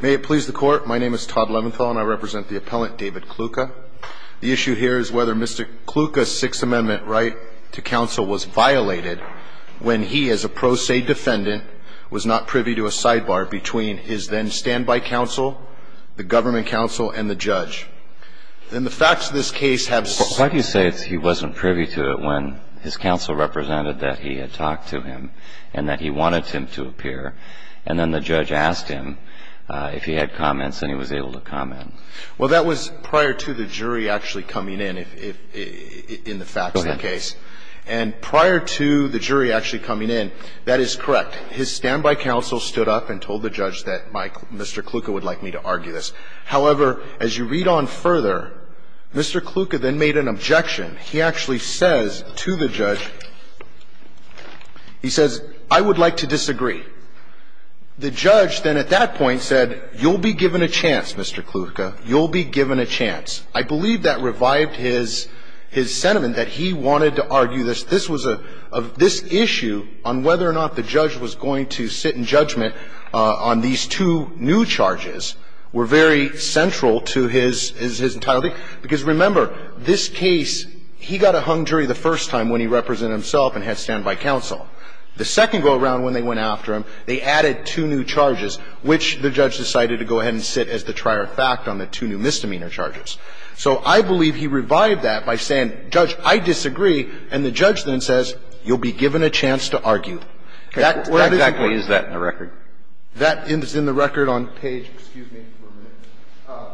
May it please the court, my name is Todd Leventhal and I represent the appellant David Klucka. The issue here is whether Mr. Klucka's Sixth Amendment right to counsel was violated when he, as a pro se defendant, was not privy to a sidebar between his then standby counsel, the government counsel, and the judge. And the facts of this case have... Why do you say he wasn't privy to it when his counsel represented that he had talked to him and that he wanted him to appear? And then the judge asked him if he had comments and he was able to comment. Well, that was prior to the jury actually coming in, in the facts of the case. Go ahead. And prior to the jury actually coming in, that is correct. His standby counsel stood up and told the judge that Mr. Klucka would like me to argue this. However, as you read on further, Mr. Klucka then made an objection. He actually says to the judge, he says, I would like to disagree. The judge then at that point said, you'll be given a chance, Mr. Klucka. You'll be given a chance. I believe that revived his sentiment that he wanted to argue this. This issue on whether or not the judge was going to sit in judgment on these two new charges were very central to his entirety. Because remember, this case, he got a hung jury the first time when he represented himself and had standby counsel. The second go-around when they went after him, they added two new charges, which the judge decided to go ahead and sit as the trier of fact on the two new misdemeanor charges. So I believe he revived that by saying, Judge, I disagree, and the judge then says, you'll be given a chance to argue. That is important. What exactly is that in the record? That is in the record on page, excuse me for a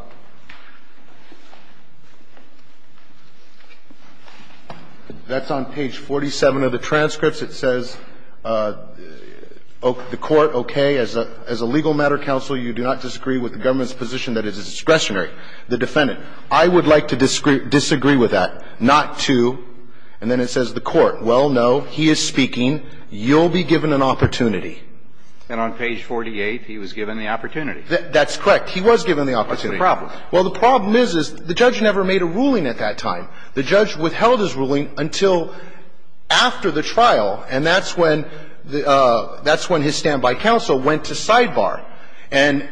minute. That's on page 47 of the transcripts. It says, the court, okay, as a legal matter counsel, you do not disagree with the government's position that is discretionary. The defendant, I would like to disagree with that, not to. And then it says the court, well, no, he is speaking. You'll be given an opportunity. And on page 48, he was given the opportunity. That's correct. He was given the opportunity. What's the problem? Well, the problem is, is the judge never made a ruling at that time. The judge withheld his ruling until after the trial, and that's when his standby counsel went to sidebar. And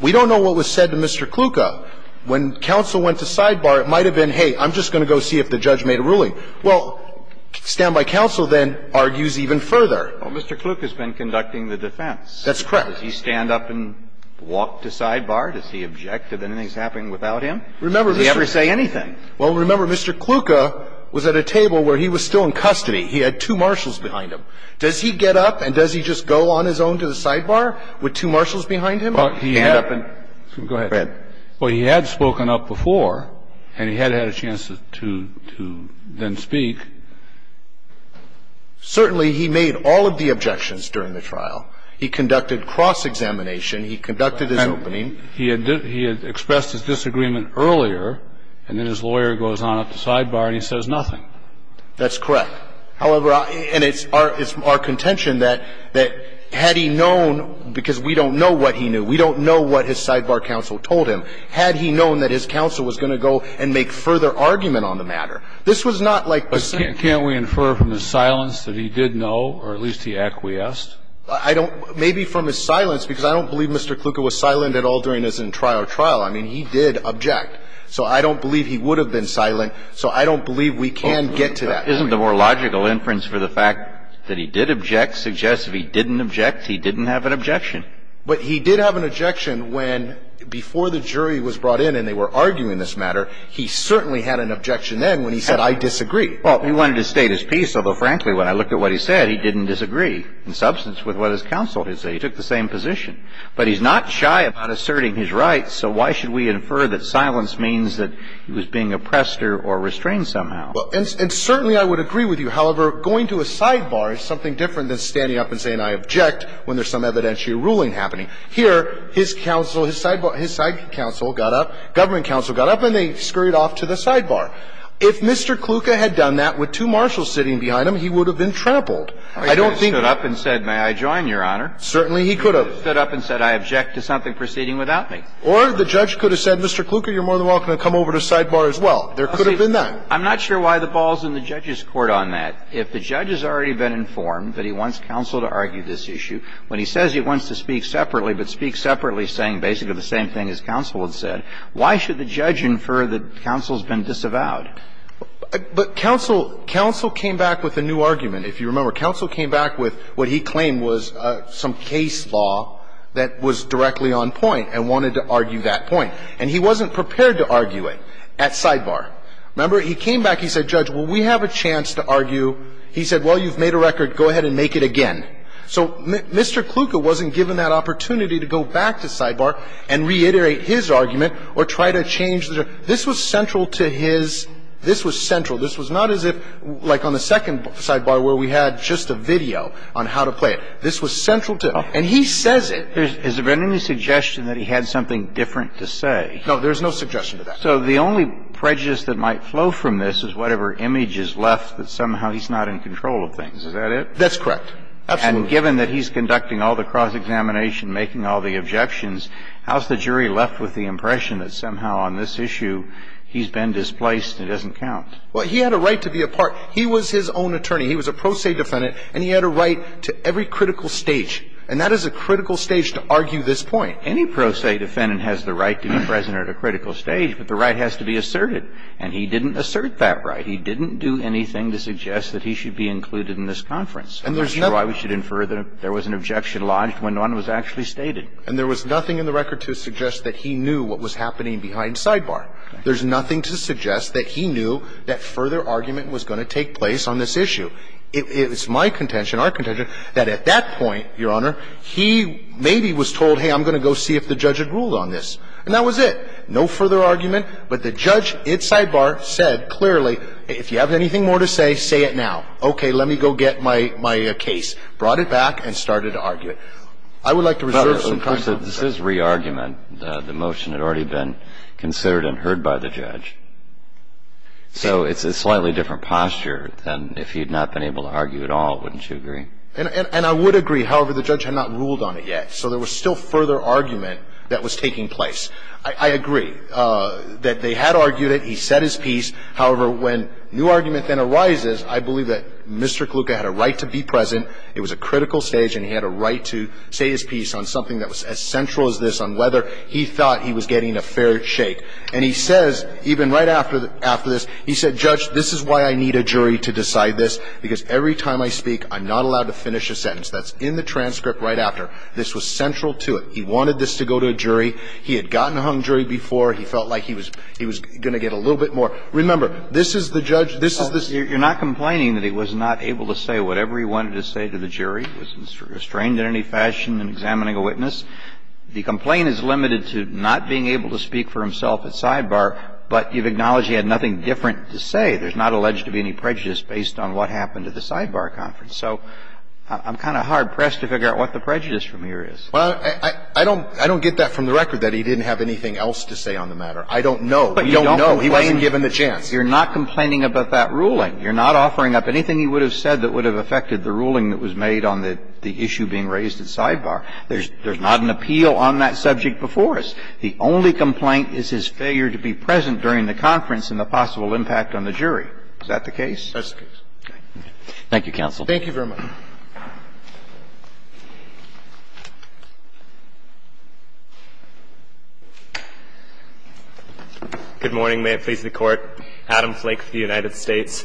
we don't know what was said to Mr. Kluka. When counsel went to sidebar, it might have been, hey, I'm just going to go see if the judge made a ruling. Well, standby counsel then argues even further. Well, Mr. Kluka has been conducting the defense. That's correct. Does he stand up and walk to sidebar? Does he object if anything's happening without him? Does he ever say anything? Well, remember, Mr. Kluka was at a table where he was still in custody. He had two marshals behind him. Does he get up and does he just go on his own to the sidebar with two marshals behind him? Well, he had up and go ahead. Well, he had spoken up before, and he had had a chance to then speak. Certainly he made all of the objections during the trial. He conducted cross-examination. He conducted his opening. He had expressed his disagreement earlier, and then his lawyer goes on up to sidebar and he says nothing. That's correct. However, and it's our contention that had he known, because we don't know what he knew, we don't know what his sidebar counsel told him, had he known that his counsel was going to go and make further argument on the matter. This was not like the same. But can't we infer from the silence that he did know or at least he acquiesced? I don't. Maybe from his silence because I don't believe Mr. Kluka was silent at all during his entire trial. I mean, he did object. So I don't believe he would have been silent. So I don't believe we can get to that. Isn't the more logical inference for the fact that he did object suggest if he didn't object, he didn't have an objection. But he did have an objection when before the jury was brought in and they were arguing this matter, he certainly had an objection then when he said I disagree. Well, he wanted to stay at his peace. Although, frankly, when I looked at what he said, he didn't disagree in substance with what his counsel did say. He took the same position. But he's not shy about asserting his rights. So why should we infer that silence means that he was being oppressed or restrained somehow? Well, and certainly I would agree with you. However, going to a sidebar is something different than standing up and saying I object when there's some evidentiary ruling happening. Here, his counsel, his sidebar, his side counsel got up, government counsel got up and they scurried off to the sidebar. If Mr. Kluka had done that with two marshals sitting behind him, he would have been trampled. I don't think he would have stood up and said may I join, Your Honor. Certainly he could have. He could have stood up and said I object to something proceeding without me. Or the judge could have said, Mr. Kluka, you're more than welcome to come over to sidebar as well. There could have been that. I'm not sure why the ball's in the judge's court on that. If the judge has already been informed that he wants counsel to argue this issue when he says he wants to speak separately, but speak separately saying basically the same thing as counsel had said, why should the judge infer that counsel's been disavowed? But counsel came back with a new argument. If you remember, counsel came back with what he claimed was some case law that was directly on point and wanted to argue that point. And he wasn't prepared to argue it at sidebar. Remember, he came back, he said, Judge, well, we have a chance to argue. He said, well, you've made a record. Go ahead and make it again. So Mr. Kluka wasn't given that opportunity to go back to sidebar and reiterate his argument or try to change the judge. This was central to his – this was central. This was not as if, like on the second sidebar where we had just a video on how to play it. This was central to it. And he says it. Has there been any suggestion that he had something different to say? No. There's no suggestion to that. So the only prejudice that might flow from this is whatever image is left that somehow he's not in control of things. Is that it? That's correct. Absolutely. And given that he's conducting all the cross-examination, making all the objections, how's the jury left with the impression that somehow on this issue he's been displaced and it doesn't count? Well, he had a right to be a part. He was his own attorney. He was a pro se defendant, and he had a right to every critical stage. And that is a critical stage to argue this point. Any pro se defendant has the right to be present at a critical stage, but the right has to be asserted. And he didn't assert that right. He didn't do anything to suggest that he should be included in this conference. I'm not sure why we should infer that there was an objection lodged when none was actually stated. And there was nothing in the record to suggest that he knew what was happening behind sidebar. There's nothing to suggest that he knew that further argument was going to take place on this issue. It's my contention, our contention, that at that point, Your Honor, he maybe was told, hey, I'm going to go see if the judge had ruled on this. And that was it. No further argument. But the judge at sidebar said clearly, if you have anything more to say, say it now. Okay, let me go get my case. Brought it back and started to argue it. I would like to reserve some time. This is re-argument. The motion had already been considered and heard by the judge. So it's a slightly different posture than if he had not been able to argue at all, wouldn't you agree? And I would agree. However, the judge had not ruled on it yet. So there was still further argument that was taking place. I agree that they had argued it. He said his piece. However, when new argument then arises, I believe that Mr. Kluka had a right to be present. It was a critical stage, and he had a right to say his piece on something that was as central as this, on whether he thought he was getting a fair shake. And he says, even right after this, he said, Judge, this is why I need a jury to decide this, because every time I speak, I'm not allowed to finish a sentence. That's in the transcript right after. This was central to it. He wanted this to go to a jury. He had gotten a hung jury before. He felt like he was going to get a little bit more. Remember, this is the judge. This is this. You're not complaining that he was not able to say whatever he wanted to say to the jury, was restrained in any fashion in examining a witness? The complaint is limited to not being able to speak for himself at sidebar, but you've acknowledged he had nothing different to say. There's not alleged to be any prejudice based on what happened at the sidebar conference. So I'm kind of hard-pressed to figure out what the prejudice from here is. I don't get that from the record, that he didn't have anything else to say on the matter. I don't know. We don't know. He wasn't given the chance. You're not complaining about that ruling. You're not offering up anything he would have said that would have affected the ruling that was made on the issue being raised at sidebar. There's not an appeal on that subject before us. The only complaint is his failure to be present during the conference and the possible impact on the jury. Is that the case? That's the case. Thank you, counsel. Thank you very much. Good morning. May it please the Court. Adam Flake for the United States.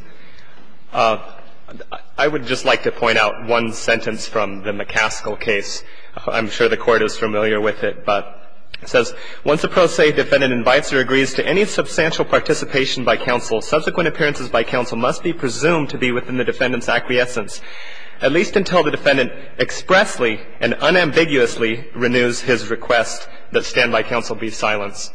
I would just like to point out one sentence from the McCaskill case. I'm sure the Court is familiar with it, but it says, Once a pro se defendant invites or agrees to any substantial participation by counsel, subsequent appearances by counsel must be presumed to be within the defendant's acquiescence. At least until the defendant expressly and unambiguously renews his request that standby counsel be silenced.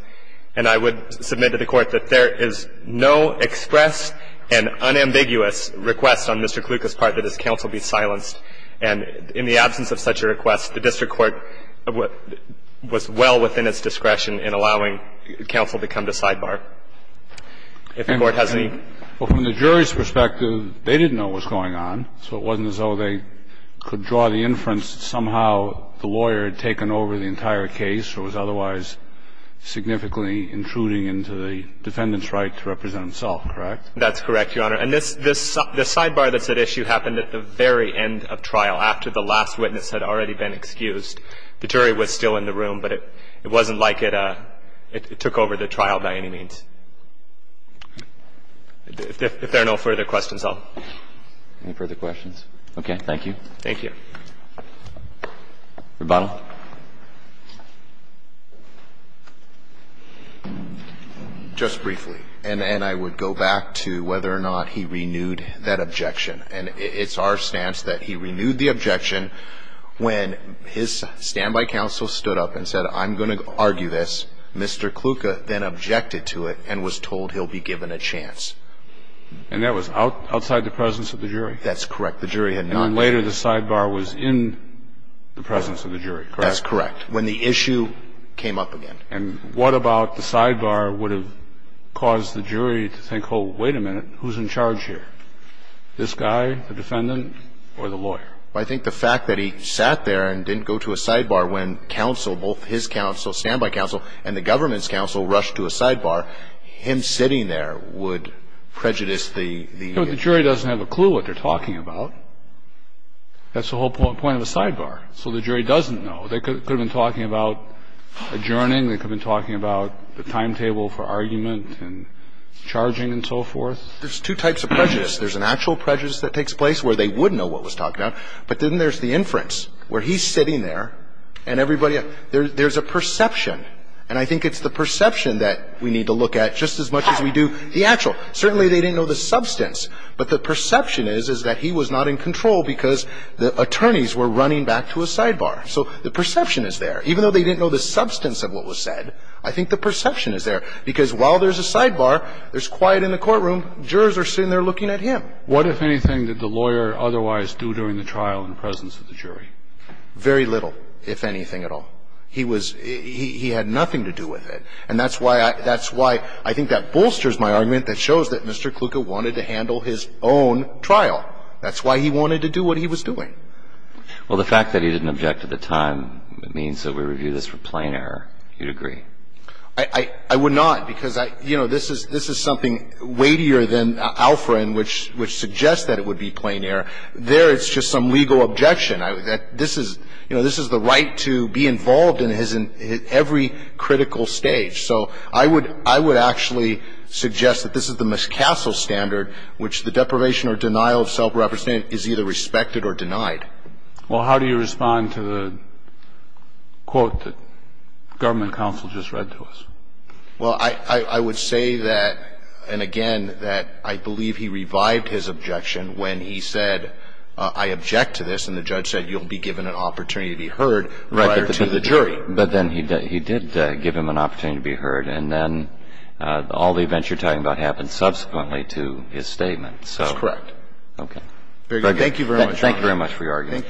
And I would submit to the Court that there is no express and unambiguous request on Mr. Kluka's part that his counsel be silenced. And in the absence of such a request, the district court was well within its discretion in allowing counsel to come to sidebar. If the Court has any. Well, from the jury's perspective, they didn't know what was going on. So it wasn't as though they could draw the inference somehow the lawyer had taken over the entire case or was otherwise significantly intruding into the defendant's right to represent himself, correct? That's correct, Your Honor. And this sidebar that's at issue happened at the very end of trial, after the last witness had already been excused. The jury was still in the room, but it wasn't like it took over the trial by any means. If there are no further questions, I'll. Any further questions? Okay. Thank you. Thank you. Rebuttal. Just briefly. And I would go back to whether or not he renewed that objection. And it's our stance that he renewed the objection when his standby counsel stood up and said, I'm going to argue this. Mr. Kluka then objected to it and was told he'll be given a chance. And that was outside the presence of the jury? That's correct. The jury had not. And then later the sidebar was in the presence of the jury, correct? That's correct. When the issue came up again. And what about the sidebar would have caused the jury to think, oh, wait a minute, who's in charge here? This guy, the defendant, or the lawyer? I think the fact that he sat there and didn't go to a sidebar when counsel, both his counsel, standby counsel, and the government's counsel rushed to a sidebar, him sitting there would prejudice the ---- But the jury doesn't have a clue what they're talking about. That's the whole point of a sidebar. So the jury doesn't know. They could have been talking about adjourning. They could have been talking about the timetable for argument and charging and so forth. There's two types of prejudice. There's an actual prejudice that takes place where they would know what was talked about. But then there's the inference where he's sitting there and everybody, there's a perception. And I think it's the perception that we need to look at just as much as we do the actual. Certainly they didn't know the substance. But the perception is, is that he was not in control because the attorneys were running back to a sidebar. So the perception is there. Even though they didn't know the substance of what was said, I think the perception is there. Because while there's a sidebar, there's quiet in the courtroom, jurors are sitting there looking at him. What, if anything, did the lawyer otherwise do during the trial in the presence of the jury? Very little, if anything at all. He was, he had nothing to do with it. And that's why I, that's why I think that bolsters my argument that shows that Mr. Kluka wanted to handle his own trial. That's why he wanted to do what he was doing. Well, the fact that he didn't object at the time means that we review this for plain error. You'd agree? I, I would not because I, you know, this is, this is something weightier than Alfred which, which suggests that it would be plain error. There it's just some legal objection. This is, you know, this is the right to be involved in his, every critical stage. So I would, I would actually suggest that this is the McCassell standard, which the deprivation or denial of self-representation is either respected or denied. Well, how do you respond to the quote that government counsel just read to us? Well, I, I would say that, and again, that I believe he revived his objection when he said, I object to this. And the judge said, you'll be given an opportunity to be heard prior to the jury. Right. But then he did, he did give him an opportunity to be heard. And then all the events you're talking about happened subsequently to his statement. That's correct. Okay. Very good. Thank you very much, Your Honor. Thank you very much for your argument.